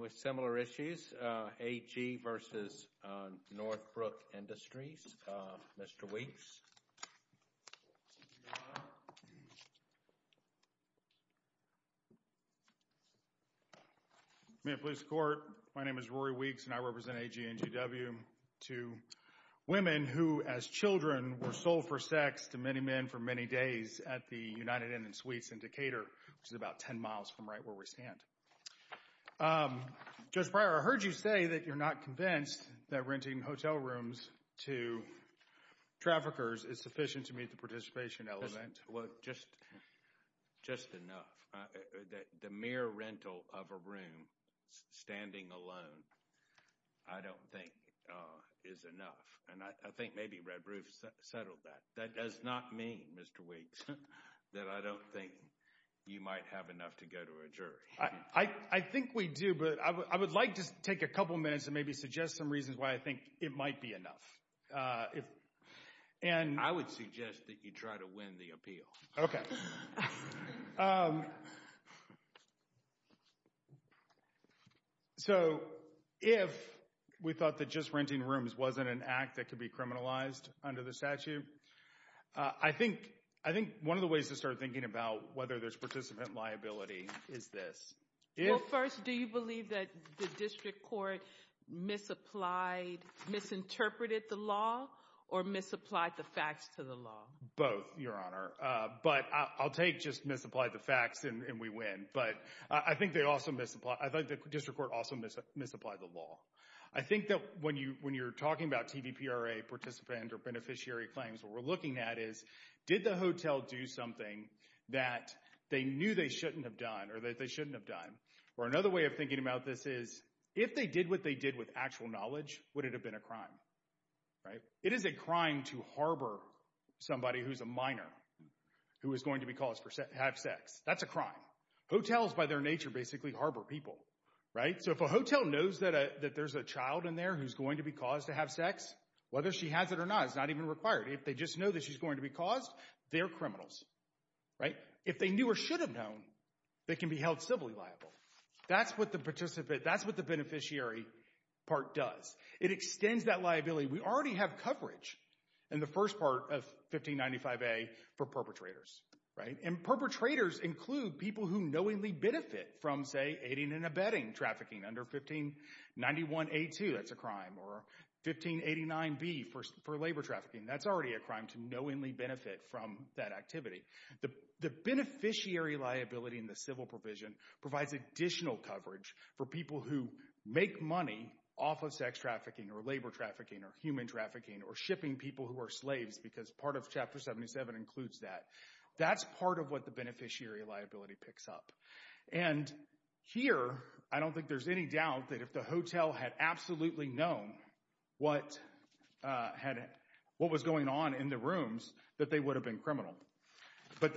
with similar issues, A.G. v. Northbrook Industries, Mr. Weeks. May it please the Court, my name is Rory Weeks, and I represent A.G. and G.W. to women who, as children, were sold for sex to many men for many days at the United Inn & Suites in Decatur, which is about 10 miles from right where we stand. Judge Breyer, I heard you say that you're not convinced that renting hotel rooms to traffickers is sufficient to meet the participation element. Just enough. The mere rental of a room, standing alone, I don't think is enough. And I think maybe Red Roof settled that. That does not mean, Mr. Weeks, that I don't think you might have enough to go to a jury. I think we do, but I would like to take a couple minutes and maybe suggest some reasons why I think it might be enough. I would suggest that you try to win the appeal. So, if we thought that just renting rooms wasn't an act that could be criminalized under the statute, I think one of the ways to start thinking about whether there's participant liability is this. Well, first, do you believe that the district court misinterpreted the law or misapplied the facts to the law? Both, Your Honor. But I'll take just misapplied the facts and we win. But I think the district court also misapplied the law. I think that when you're talking about TVPRA participant or beneficiary claims, what we're looking at is, did the hotel do something that they knew they shouldn't have done or that they shouldn't have done? Or another way of thinking about this is, if they did what they did with actual knowledge, would it have been a crime? It is a crime to harbor somebody who's a minor who is going to have sex. That's a crime. Hotels, by their nature, basically harbor people. So if a hotel knows that there's a child in there who's going to be caused to have sex, whether she has it or not is not even required. If they just know that she's going to be caused, they're criminals. If they knew or should have known, they can be held civilly liable. That's what the beneficiary part does. It extends that liability. We already have coverage in the first part of 1595A for perpetrators. Perpetrators include people who knowingly benefit from, say, aiding and abetting trafficking. Under 1591A2, that's a crime, or 1589B for labor trafficking. That's already a crime to knowingly benefit from that activity. The beneficiary liability in the civil provision provides additional coverage for people who make money off of sex trafficking or labor trafficking or human trafficking or shipping people who are slaves because part of Chapter 77 includes that. That's part of what the beneficiary liability picks up. And here, I don't think there's any doubt that if the hotel had absolutely known what was going on in the rooms, that they would have been criminal. But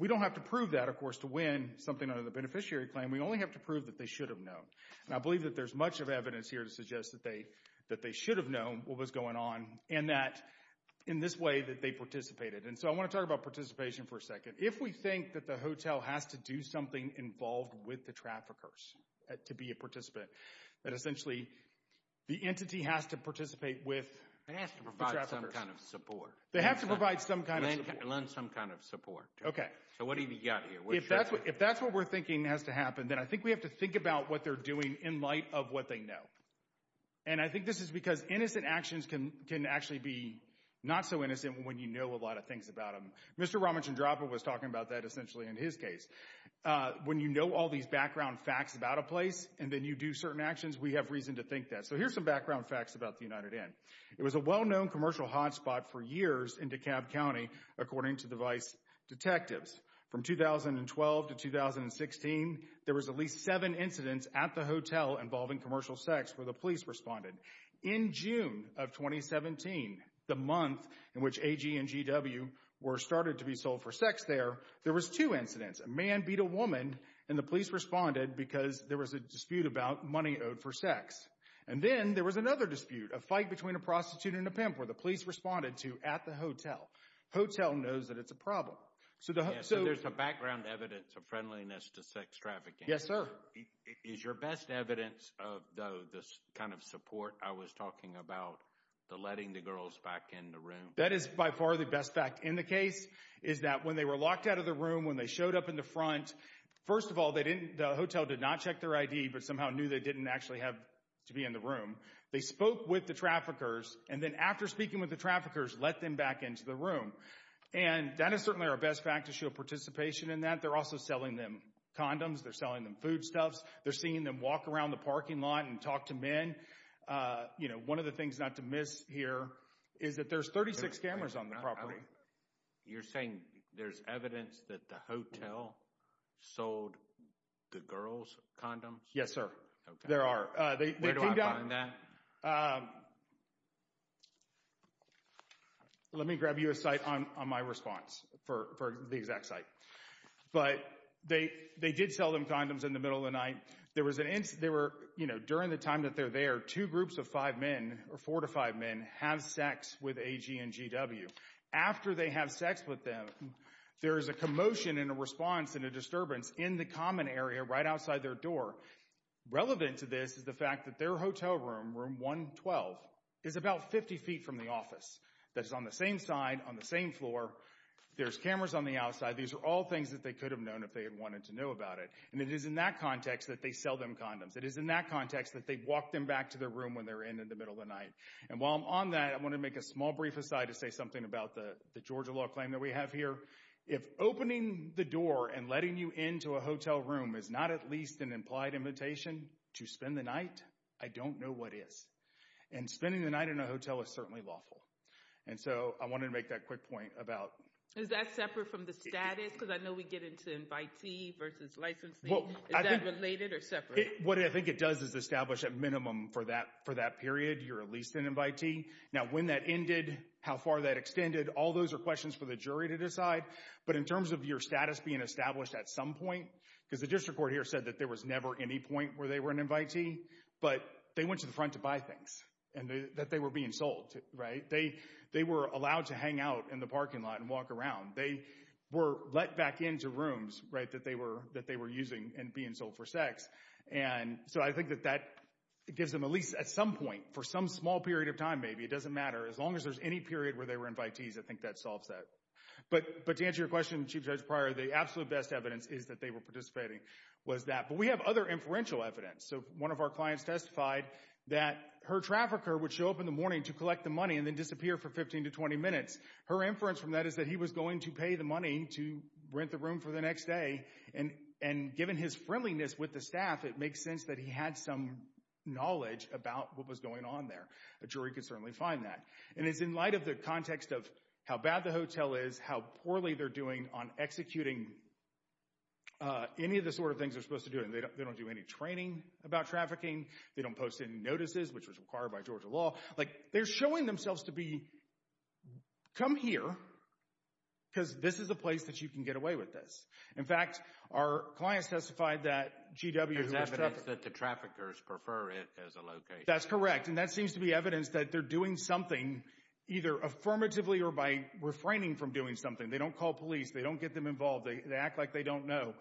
we don't have to prove that, of course, to win something under the beneficiary claim. We only have to prove that they should have known. And I believe that there's much of evidence here to suggest that they should have known what was going on and that in this way that they participated. And so I want to talk about participation for a second. If we think that the hotel has to do something involved with the traffickers to be a participant, that essentially the entity has to participate with the traffickers. They have to provide some kind of support. They have to provide some kind of support. Lend some kind of support. Okay. So what have you got here? If that's what we're thinking has to happen, then I think we have to think about what they're doing in light of what they know. And I think this is because innocent actions can actually be not so innocent when you know a lot of things about them. Mr. Ramachandrappa was talking about that essentially in his case. When you know all these background facts about a place and then you do certain actions, we have reason to think that. So here's some background facts about the United Inn. It was a well-known commercial hotspot for years in DeKalb County, according to device detectives. From 2012 to 2016, there was at least seven incidents at the hotel involving commercial sex where the police responded. In June of 2017, the month in which A.G. and G.W. were started to be sold for sex there, there was two incidents. A man beat a woman, and the police responded because there was a dispute about money owed for sex. And then there was another dispute, a fight between a prostitute and a pimp, where the police responded to at the hotel. Hotel knows that it's a problem. So there's some background evidence of friendliness to sex trafficking. Yes, sir. Is your best evidence of the kind of support I was talking about, the letting the girls back in the room? That is by far the best fact in the case, is that when they were locked out of the room, when they showed up in the front, first of all, the hotel did not check their ID but somehow knew they didn't actually have to be in the room. They spoke with the traffickers, and then after speaking with the traffickers, let them back into the room. And that is certainly our best fact to show participation in that. They're also selling them condoms. They're selling them foodstuffs. They're seeing them walk around the parking lot and talk to men. You know, one of the things not to miss here is that there's 36 cameras on the property. You're saying there's evidence that the hotel sold the girls condoms? Yes, sir. There are. Where do I find that? Let me grab you a site on my response for the exact site. But they did sell them condoms in the middle of the night. During the time that they're there, two groups of five men, or four to five men, have sex with AG and GW. After they have sex with them, there is a commotion and a response and a disturbance in the common area right outside their door. Relevant to this is the fact that their hotel room, room 112, is about 50 feet from the office. That's on the same side, on the same floor. There's cameras on the outside. These are all things that they could have known if they had wanted to know about it. And it is in that context that they sell them condoms. It is in that context that they walk them back to their room when they're in in the middle of the night. And while I'm on that, I want to make a small brief aside to say something about the Georgia law claim that we have here. If opening the door and letting you into a hotel room is not at least an implied invitation to spend the night, I don't know what is. And spending the night in a hotel is certainly lawful. And so I wanted to make that quick point about— Is that separate from the status? Because I know we get into invitee versus licensing. Is that related or separate? What I think it does is establish a minimum for that period. You're at least an invitee. Now, when that ended, how far that extended, all those are questions for the jury to decide. But in terms of your status being established at some point— Because the district court here said that there was never any point where they were an invitee. But they went to the front to buy things and that they were being sold. They were allowed to hang out in the parking lot and walk around. They were let back into rooms that they were using and being sold for sex. And so I think that that gives them at least at some point, for some small period of time maybe, it doesn't matter. As long as there's any period where they were invitees, I think that solves that. But to answer your question, Chief Judge Pryor, the absolute best evidence is that they were participating was that. But we have other inferential evidence. So one of our clients testified that her trafficker would show up in the morning to collect the money and then disappear for 15 to 20 minutes. Her inference from that is that he was going to pay the money to rent the room for the next day. And given his friendliness with the staff, it makes sense that he had some knowledge about what was going on there. A jury could certainly find that. And it's in light of the context of how bad the hotel is, how poorly they're doing on executing any of the sort of things they're supposed to do. They don't do any training about trafficking. They don't post any notices, which was required by Georgia law. They're showing themselves to be, come here because this is a place that you can get away with this. In fact, our client testified that GW. There's evidence that the traffickers prefer it as a location. That's correct. And that seems to be evidence that they're doing something either affirmatively or by refraining from doing something. They don't call police. They don't get them involved. They act like they don't know.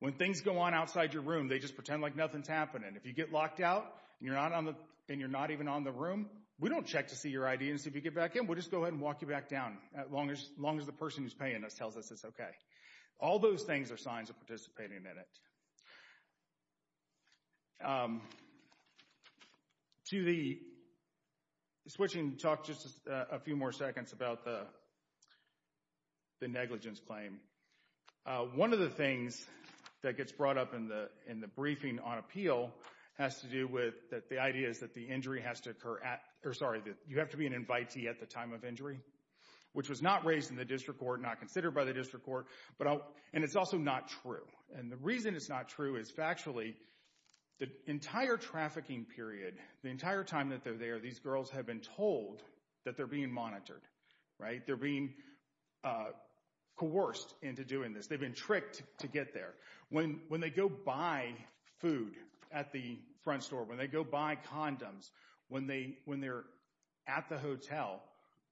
When things go on outside your room, they just pretend like nothing's happening. If you get locked out and you're not even on the room, we don't check to see your ID and see if you get back in. We'll just go ahead and walk you back down as long as the person who's paying us tells us it's okay. All those things are signs of participating in it. To the switching, talk just a few more seconds about the negligence claim. One of the things that gets brought up in the briefing on appeal has to do with the idea that the injury has to occur at, or sorry, that you have to be an invitee at the time of injury, which was not raised in the district court, not considered by the district court, and it's also not true. And the reason it's not true is factually the entire trafficking period, the entire time that they're there, these girls have been told that they're being monitored. They're being coerced into doing this. They've been tricked to get there. When they go buy food at the front store, when they go buy condoms, when they're at the hotel,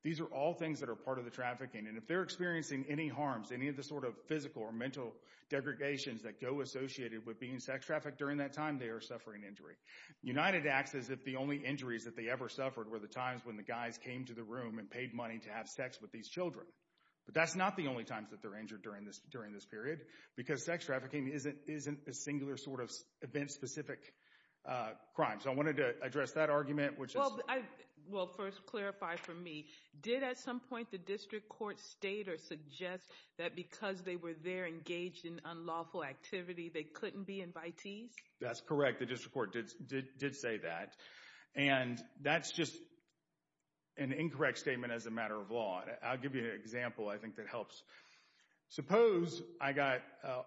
these are all things that are part of the trafficking, and if they're experiencing any harms, any of the sort of physical or mental degregations that go associated with being sex trafficked during that time, they are suffering injury. United acts as if the only injuries that they ever suffered were the times when the guys came to the room and paid money to have sex with these children. But that's not the only times that they're injured during this period, because sex trafficking isn't a singular sort of event-specific crime. So I wanted to address that argument. Well, first clarify for me. Did at some point the district court state or suggest that because they were there engaged in unlawful activity, they couldn't be invitees? That's correct. The district court did say that. And that's just an incorrect statement as a matter of law. I'll give you an example I think that helps. Suppose I got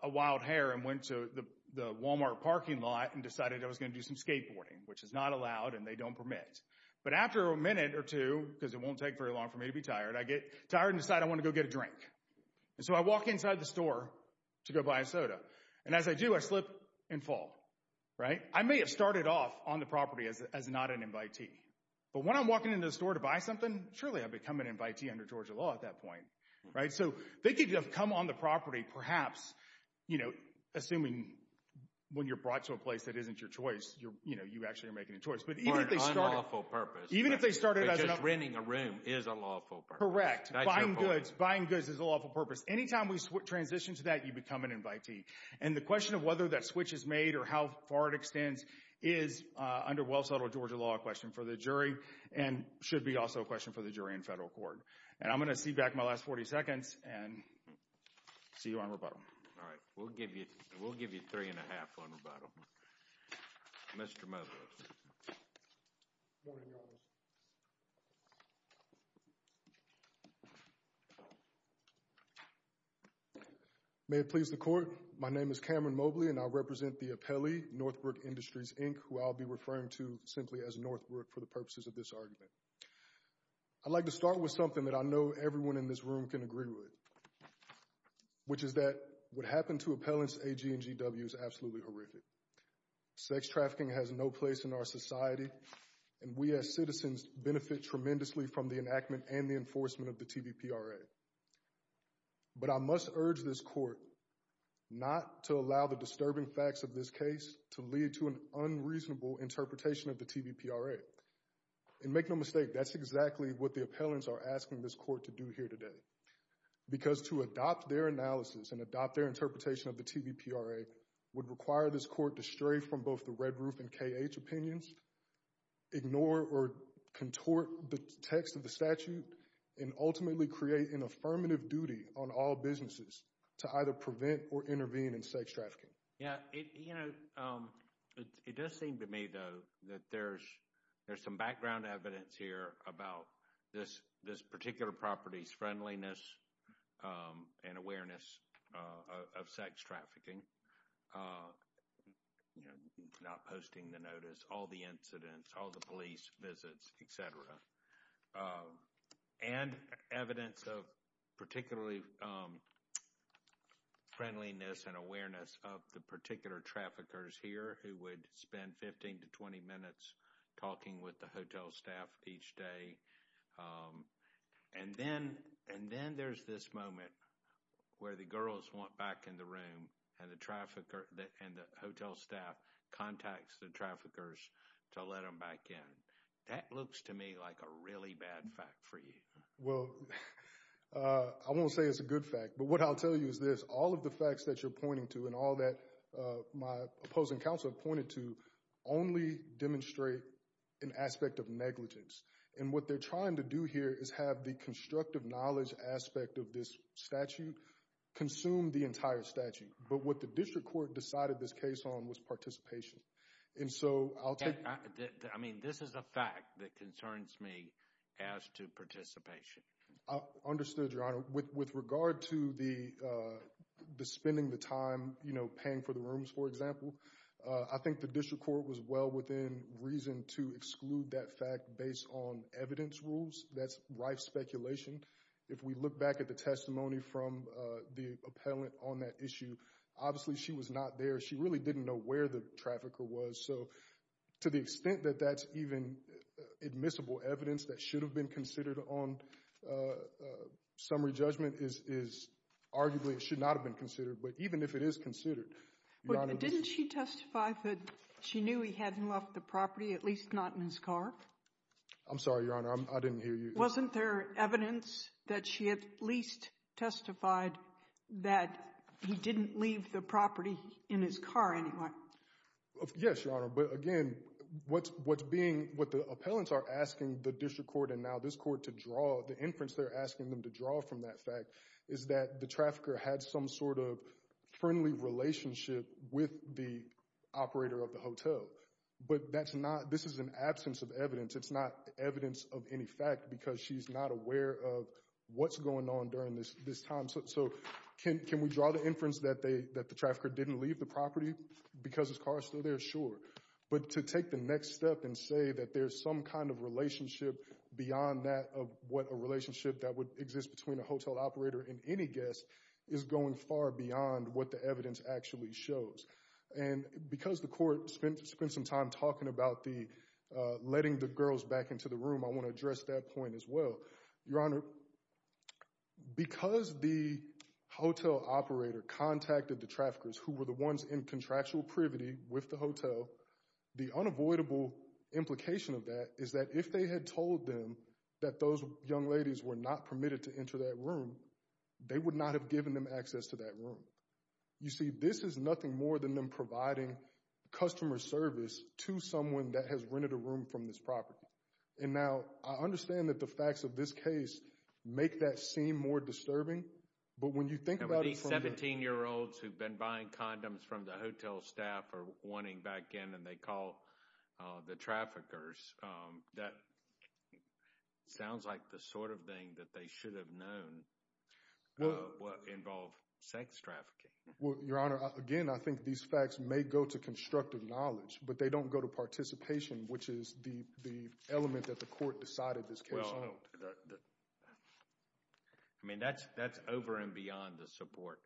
a wild hair and went to the Walmart parking lot and decided I was going to do some skateboarding, which is not allowed and they don't permit. But after a minute or two, because it won't take very long for me to be tired, I get tired and decide I want to go get a drink. And so I walk inside the store to go buy a soda. And as I do, I slip and fall. I may have started off on the property as not an invitee. But when I'm walking into the store to buy something, surely I've become an invitee under Georgia law at that point. So they could have come on the property perhaps, assuming when you're brought to a place that isn't your choice, you actually are making a choice. For an unlawful purpose. But just renting a room is a lawful purpose. Correct. Buying goods is a lawful purpose. Anytime we transition to that, you become an invitee. And the question of whether that switch is made or how far it extends is under well-subtle Georgia law question for the jury and should be also a question for the jury in federal court. And I'm going to cede back my last 40 seconds and see you on rebuttal. All right. We'll give you three and a half on rebuttal. Mr. Mobley. May it please the court. My name is Cameron Mobley and I represent the appellee, Northbrook Industries, Inc., who I'll be referring to simply as Northbrook for the purposes of this argument. I'd like to start with something that I know everyone in this room can agree with. Which is that what happened to appellants A.G. and G.W. is absolutely horrific. Sex trafficking has no place in our society. And we as citizens benefit tremendously from the enactment and the enforcement of the TVPRA. But I must urge this court not to allow the disturbing facts of this case to lead to an unreasonable interpretation of the TVPRA. And make no mistake, that's exactly what the appellants are asking this court to do here today. Because to adopt their analysis and adopt their interpretation of the TVPRA would require this court to stray from both the Red Roof and K.H. opinions. Ignore or contort the text of the statute. And ultimately create an affirmative duty on all businesses to either prevent or intervene in sex trafficking. Yeah, you know, it does seem to me, though, that there's some background evidence here about this particular property's friendliness and awareness of sex trafficking. Not posting the notice, all the incidents, all the police visits, etc. And evidence of particularly friendliness and awareness of the particular traffickers here who would spend 15 to 20 minutes talking with the hotel staff each day. And then there's this moment where the girls want back in the room and the hotel staff contacts the traffickers to let them back in. That looks to me like a really bad fact for you. Well, I won't say it's a good fact, but what I'll tell you is this. All of the facts that you're pointing to and all that my opposing counsel pointed to only demonstrate an aspect of negligence. And what they're trying to do here is have the constructive knowledge aspect of this statute consume the entire statute. But what the district court decided this case on was participation. I mean, this is a fact that concerns me as to participation. I understood, Your Honor. With regard to spending the time paying for the rooms, for example, I think the district court was well within reason to exclude that fact based on evidence rules. That's rife speculation. If we look back at the testimony from the appellant on that issue, obviously she was not there. She really didn't know where the trafficker was. So to the extent that that's even admissible evidence that should have been considered on summary judgment is arguably it should not have been considered. But even if it is considered, Your Honor. Didn't she testify that she knew he hadn't left the property, at least not in his car? I'm sorry, Your Honor. I didn't hear you. Wasn't there evidence that she at least testified that he didn't leave the property in his car anyway? Yes, Your Honor. But again, what the appellants are asking the district court and now this court to draw, the inference they're asking them to draw from that fact, is that the trafficker had some sort of friendly relationship with the operator of the hotel. But this is an absence of evidence. It's not evidence of any fact because she's not aware of what's going on during this time. So can we draw the inference that the trafficker didn't leave the property because his car is still there? Sure. But to take the next step and say that there's some kind of relationship beyond that of what a relationship that would exist between a hotel operator and any guest is going far beyond what the evidence actually shows. And because the court spent some time talking about the letting the girls back into the room, I want to address that point as well. Your Honor, because the hotel operator contacted the traffickers who were the ones in contractual privity with the hotel, the unavoidable implication of that is that if they had told them that those young ladies were not permitted to enter that room, they would not have given them access to that room. You see, this is nothing more than them providing customer service to someone that has rented a room from this property. And now I understand that the facts of this case make that seem more disturbing. These 17-year-olds who've been buying condoms from the hotel staff are wanting back in and they call the traffickers. That sounds like the sort of thing that they should have known would involve sex trafficking. Your Honor, again, I think these facts may go to constructive knowledge, but they don't go to participation, which is the element that the court decided this case on. I mean, that's over and beyond the support,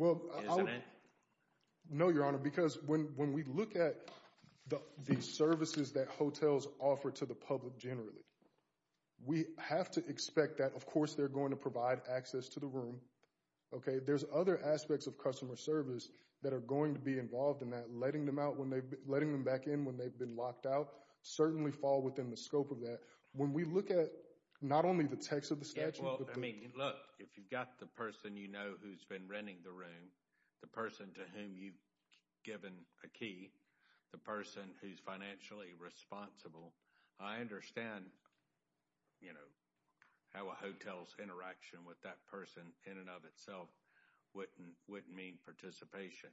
isn't it? No, Your Honor, because when we look at the services that hotels offer to the public generally, we have to expect that, of course, they're going to provide access to the room. There's other aspects of customer service that are going to be involved in that. Letting them back in when they've been locked out certainly fall within the scope of that. When we look at not only the text of the statute, but the— Look, if you've got the person you know who's been renting the room, the person to whom you've given a key, the person who's financially responsible, I understand how a hotel's interaction with that person in and of itself wouldn't mean participation.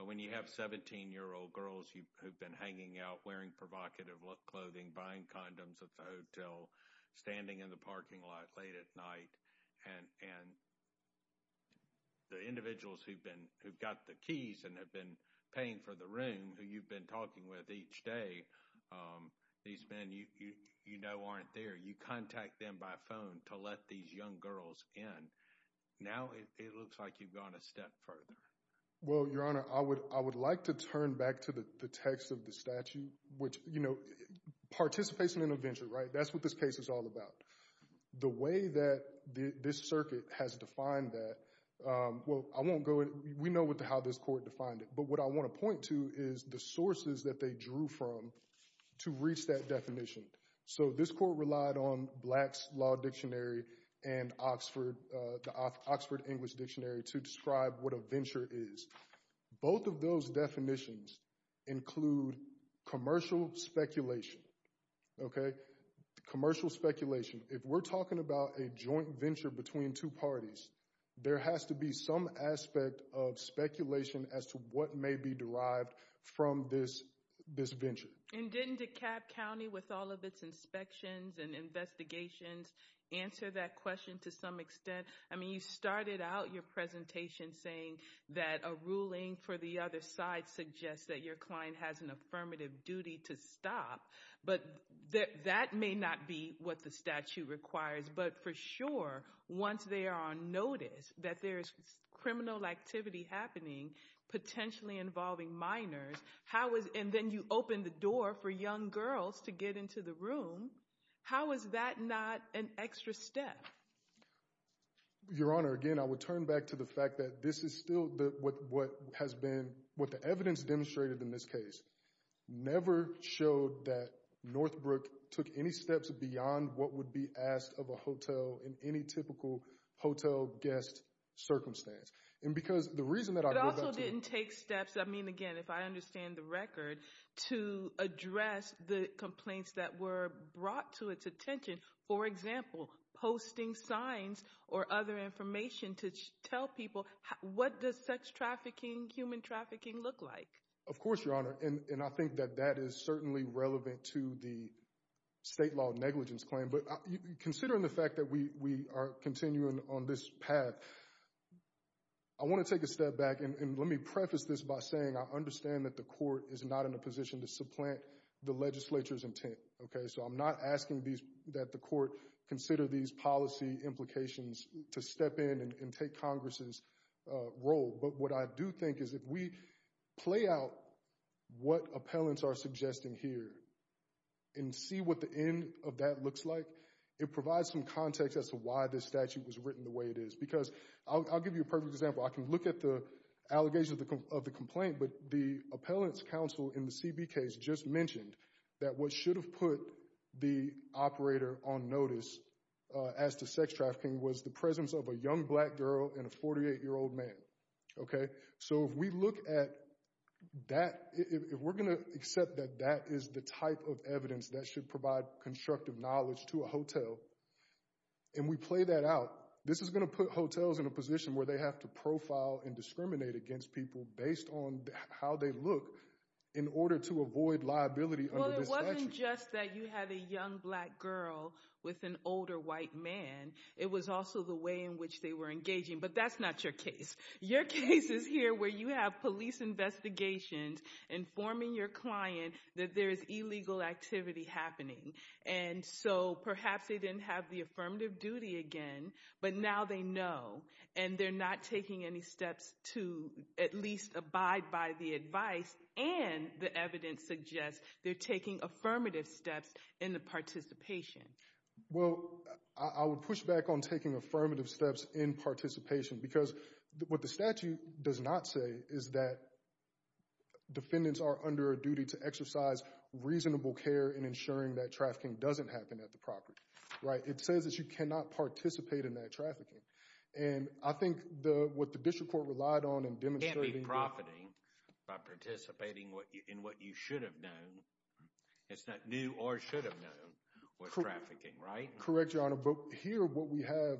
But when you have 17-year-old girls who've been hanging out, wearing provocative clothing, buying condoms at the hotel, standing in the parking lot late at night, and the individuals who've been—who've got the keys and have been paying for the room who you've been talking with each day, these men you know aren't there, you contact them by phone to let these young girls in. Now, it looks like you've gone a step further. Well, Your Honor, I would like to turn back to the text of the statute, which, you know, participation in a venture, right? That's what this case is all about. The way that this circuit has defined that—well, I won't go into—we know how this court defined it. But what I want to point to is the sources that they drew from to reach that definition. So this court relied on Black's Law Dictionary and Oxford—the Oxford English Dictionary to describe what a venture is. Both of those definitions include commercial speculation, okay? Commercial speculation—if we're talking about a joint venture between two parties, there has to be some aspect of speculation as to what may be derived from this venture. And didn't DeKalb County, with all of its inspections and investigations, answer that question to some extent? I mean, you started out your presentation saying that a ruling for the other side suggests that your client has an affirmative duty to stop. But that may not be what the statute requires. But for sure, once they are on notice that there is criminal activity happening, potentially involving minors, and then you open the door for young girls to get into the room, how is that not an extra step? Your Honor, again, I would turn back to the fact that this is still what has been—what the evidence demonstrated in this case never showed that Northbrook took any steps beyond what would be asked of a hotel in any typical hotel guest circumstance. It also didn't take steps—I mean, again, if I understand the record—to address the complaints that were brought to its attention. For example, posting signs or other information to tell people what does sex trafficking, human trafficking look like? Of course, Your Honor, and I think that that is certainly relevant to the state law negligence claim. But considering the fact that we are continuing on this path, I want to take a step back and let me preface this by saying I understand that the court is not in a position to supplant the legislature's intent. So I'm not asking that the court consider these policy implications to step in and take Congress's role. But what I do think is if we play out what appellants are suggesting here and see what the end of that looks like, it provides some context as to why this statute was written the way it is. Because I'll give you a perfect example. I can look at the allegations of the complaint, but the appellant's counsel in the CB case just mentioned that what should have put the operator on notice as to sex trafficking was the presence of a young black girl and a 48-year-old man. So if we look at that, if we're going to accept that that is the type of evidence that should provide constructive knowledge to a hotel, and we play that out, this is going to put hotels in a position where they have to profile and discriminate against people based on how they look in order to avoid liability under this statute. It wasn't just that you had a young black girl with an older white man. It was also the way in which they were engaging. But that's not your case. Your case is here where you have police investigations informing your client that there is illegal activity happening. And so perhaps they didn't have the affirmative duty again, but now they know. And they're not taking any steps to at least abide by the advice. And the evidence suggests they're taking affirmative steps in the participation. Well, I would push back on taking affirmative steps in participation because what the statute does not say is that defendants are under a duty to exercise reasonable care in ensuring that trafficking doesn't happen at the property. It says that you cannot participate in that trafficking. And I think what the district court relied on in demonstrating— You can't be profiting by participating in what you should have known. It's not new or should have known with trafficking, right? Correct, Your Honor. But here what we have,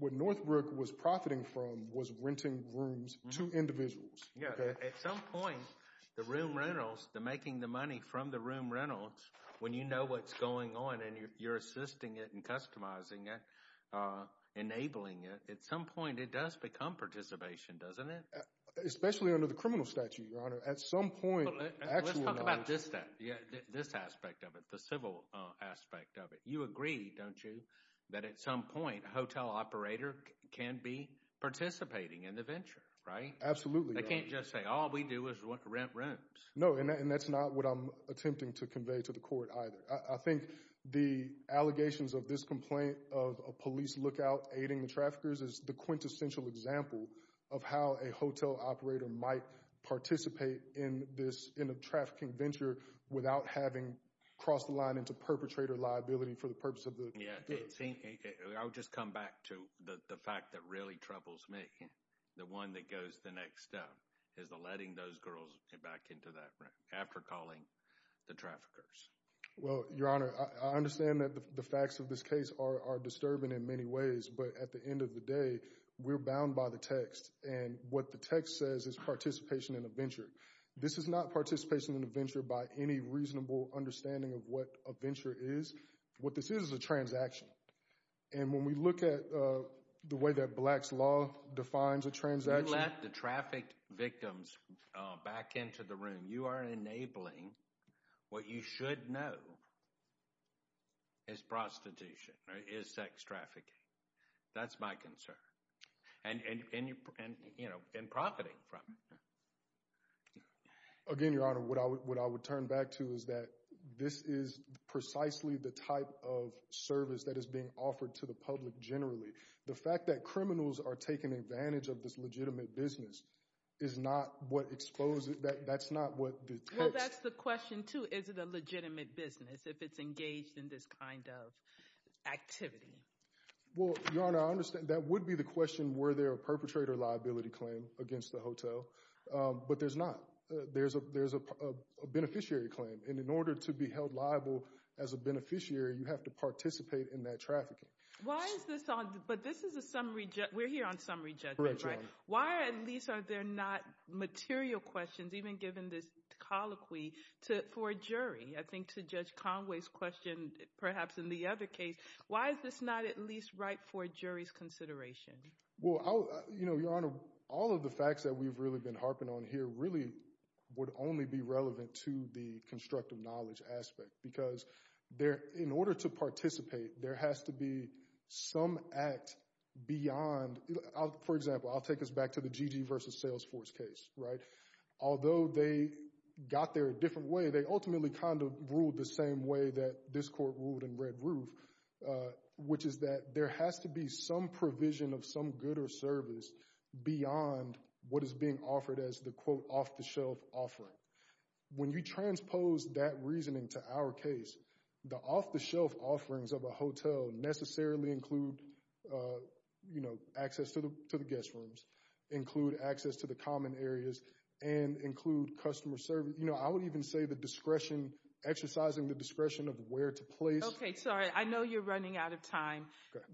what Northbrook was profiting from was renting rooms to individuals. At some point, the room rentals, the making the money from the room rentals, when you know what's going on and you're assisting it and customizing it, enabling it, at some point it does become participation, doesn't it? Especially under the criminal statute, Your Honor. At some point— Let's talk about this then, this aspect of it, the civil aspect of it. You agree, don't you, that at some point a hotel operator can be participating in the venture, right? Absolutely, Your Honor. They can't just say all we do is rent rooms. No, and that's not what I'm attempting to convey to the court either. I think the allegations of this complaint of a police lookout aiding the traffickers is the quintessential example of how a hotel operator might participate in a trafficking venture without having crossed the line into perpetrator liability for the purpose of the— I'll just come back to the fact that really troubles me. The one that goes the next step is letting those girls get back into that room after calling the traffickers. Well, Your Honor, I understand that the facts of this case are disturbing in many ways, but at the end of the day, we're bound by the text, and what the text says is participation in a venture. This is not participation in a venture by any reasonable understanding of what a venture is. What this is is a transaction. And when we look at the way that Black's Law defines a transaction— You let the trafficked victims back into the room. You are enabling what you should know is prostitution or is sex trafficking. That's my concern. And, you know, profiting from it. Again, Your Honor, what I would turn back to is that this is precisely the type of service that is being offered to the public generally. The fact that criminals are taking advantage of this legitimate business is not what exposes—that's not what the text— Well, that's the question, too. Is it a legitimate business if it's engaged in this kind of activity? Well, Your Honor, I understand that would be the question. Were there a perpetrator liability claim against the hotel? But there's not. There's a beneficiary claim. And in order to be held liable as a beneficiary, you have to participate in that trafficking. Why is this—but this is a summary—we're here on summary judgment, right? Correct, Your Honor. Why at least are there not material questions, even given this colloquy, for a jury? I think to Judge Conway's question, perhaps in the other case, why is this not at least right for a jury's consideration? Well, Your Honor, all of the facts that we've really been harping on here really would only be relevant to the constructive knowledge aspect because in order to participate, there has to be some act beyond—for example, I'll take us back to the Gigi v. Salesforce case, right? Although they got there a different way, they ultimately kind of ruled the same way that this court ruled in Red Roof, which is that there has to be some provision of some good or service beyond what is being offered as the, quote, off-the-shelf offering. When you transpose that reasoning to our case, the off-the-shelf offerings of a hotel necessarily include, you know, access to the guest rooms, include access to the common areas, and include customer service. You know, I would even say the discretion—exercising the discretion of where to place— Okay. Sorry. I know you're running out of time.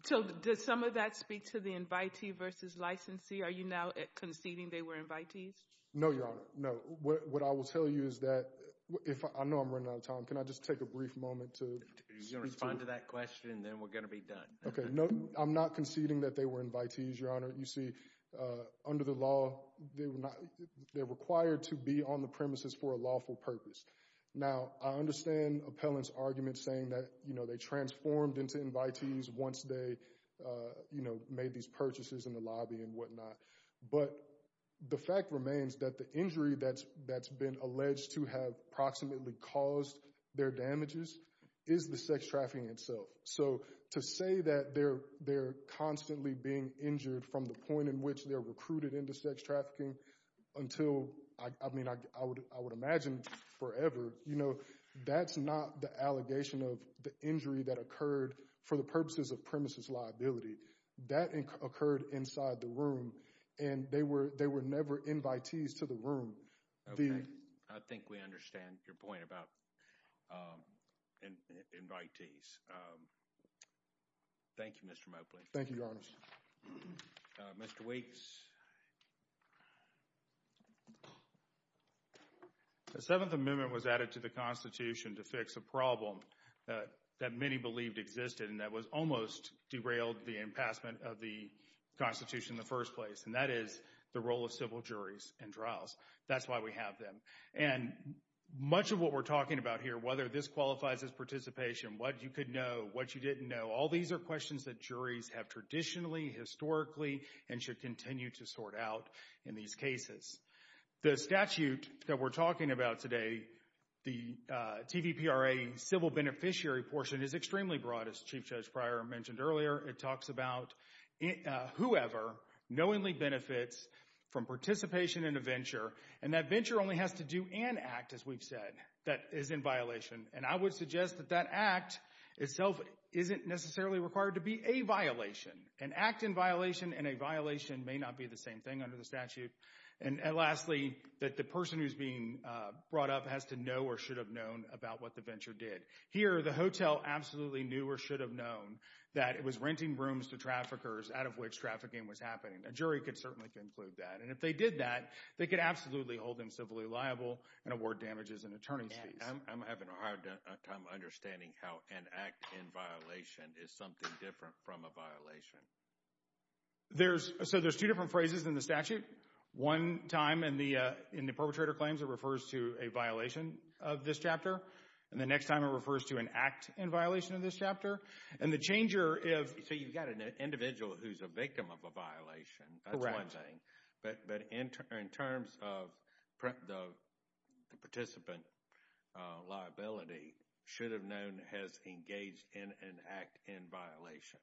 So does some of that speak to the invitee versus licensee? Are you now conceding they were invitees? No, Your Honor. No. What I will tell you is that—I know I'm running out of time. Can I just take a brief moment to— You're going to respond to that question, and then we're going to be done. Okay. No, I'm not conceding that they were invitees, Your Honor. You see, under the law, they're required to be on the premises for a lawful purpose. Now, I understand Appellant's argument saying that, you know, they transformed into invitees once they, you know, made these purchases in the lobby and whatnot. But the fact remains that the injury that's been alleged to have approximately caused their damages is the sex trafficking itself. So to say that they're constantly being injured from the point in which they're recruited into sex trafficking until— I mean, I would imagine forever, you know, that's not the allegation of the injury that occurred for the purposes of premises liability. That occurred inside the room, and they were never invitees to the room. Okay. I think we understand your point about invitees. Thank you, Mr. Mobley. Thank you, Your Honor. Mr. Waits. The Seventh Amendment was added to the Constitution to fix a problem that many believed existed and that was almost derailed the impassment of the Constitution in the first place, and that is the role of civil juries in trials. That's why we have them. And much of what we're talking about here, whether this qualifies as participation, what you could know, what you didn't know, all these are questions that juries have traditionally, historically, and should continue to sort out in these cases. The statute that we're talking about today, the TVPRA civil beneficiary portion, is extremely broad. As Chief Judge Pryor mentioned earlier, it talks about whoever knowingly benefits from participation in a venture, and that venture only has to do an act, as we've said, that is in violation. And I would suggest that that act itself isn't necessarily required to be a violation. An act in violation and a violation may not be the same thing under the statute. And lastly, that the person who's being brought up has to know or should have known about what the venture did. Here, the hotel absolutely knew or should have known that it was renting rooms to traffickers out of which trafficking was happening. A jury could certainly conclude that. And if they did that, they could absolutely hold them civilly liable and award damages and attorney's fees. I'm having a hard time understanding how an act in violation is something different from a violation. So there's two different phrases in the statute. One time in the perpetrator claims it refers to a violation of this chapter, and the next time it refers to an act in violation of this chapter. And the changer is— So you've got an individual who's a victim of a violation. Correct. But in terms of the participant liability, should have known has engaged in an act in violation.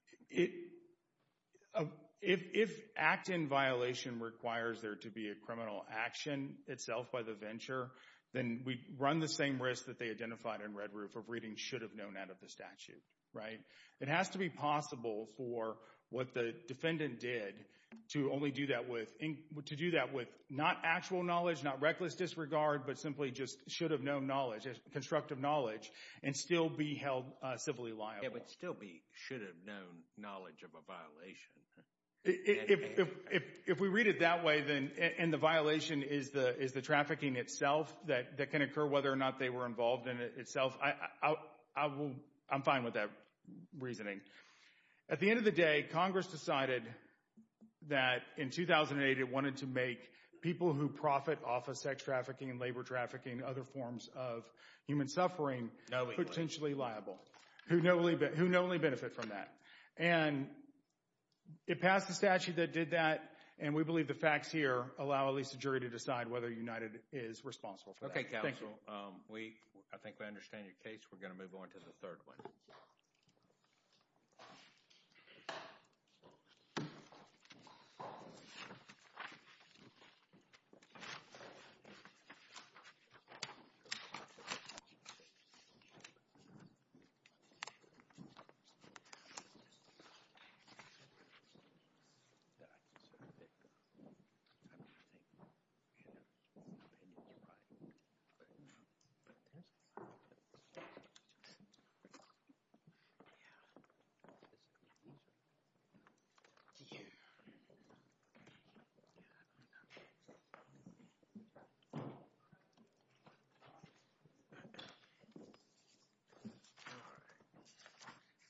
If act in violation requires there to be a criminal action itself by the venture, then we run the same risk that they identified in Red Roof of reading should have known out of the statute, right? It has to be possible for what the defendant did to only do that with—to do that with not actual knowledge, not reckless disregard, but simply just should have known knowledge, constructive knowledge, and still be held civilly liable. Yeah, but still be should have known knowledge of a violation. If we read it that way, then—and the violation is the trafficking itself that can occur, whether or not they were involved in it itself. I will—I'm fine with that reasoning. At the end of the day, Congress decided that in 2008 it wanted to make people who profit off of sex trafficking and labor trafficking, other forms of human suffering— Knowingly. Potentially liable, who knowingly benefit from that. And it passed the statute that did that, and we believe the facts here allow at least a jury to decide whether United is responsible for that. Okay, counsel. We—I think we understand your case. We're going to move on to the third one. All right.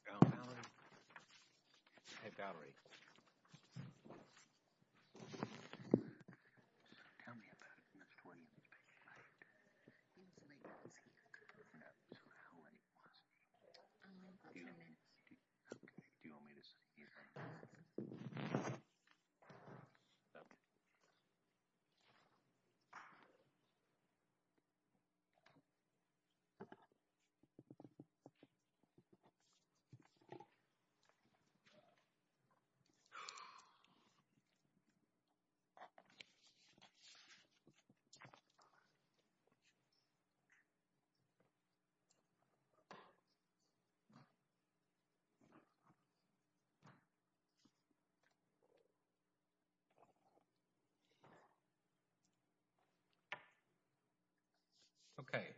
Val Valerie? Hey, Valerie. So tell me about it, and that's 20 minutes past. He was late last week. So how late was he? A few minutes. Okay. Do you want me to sit here? Okay. Okay.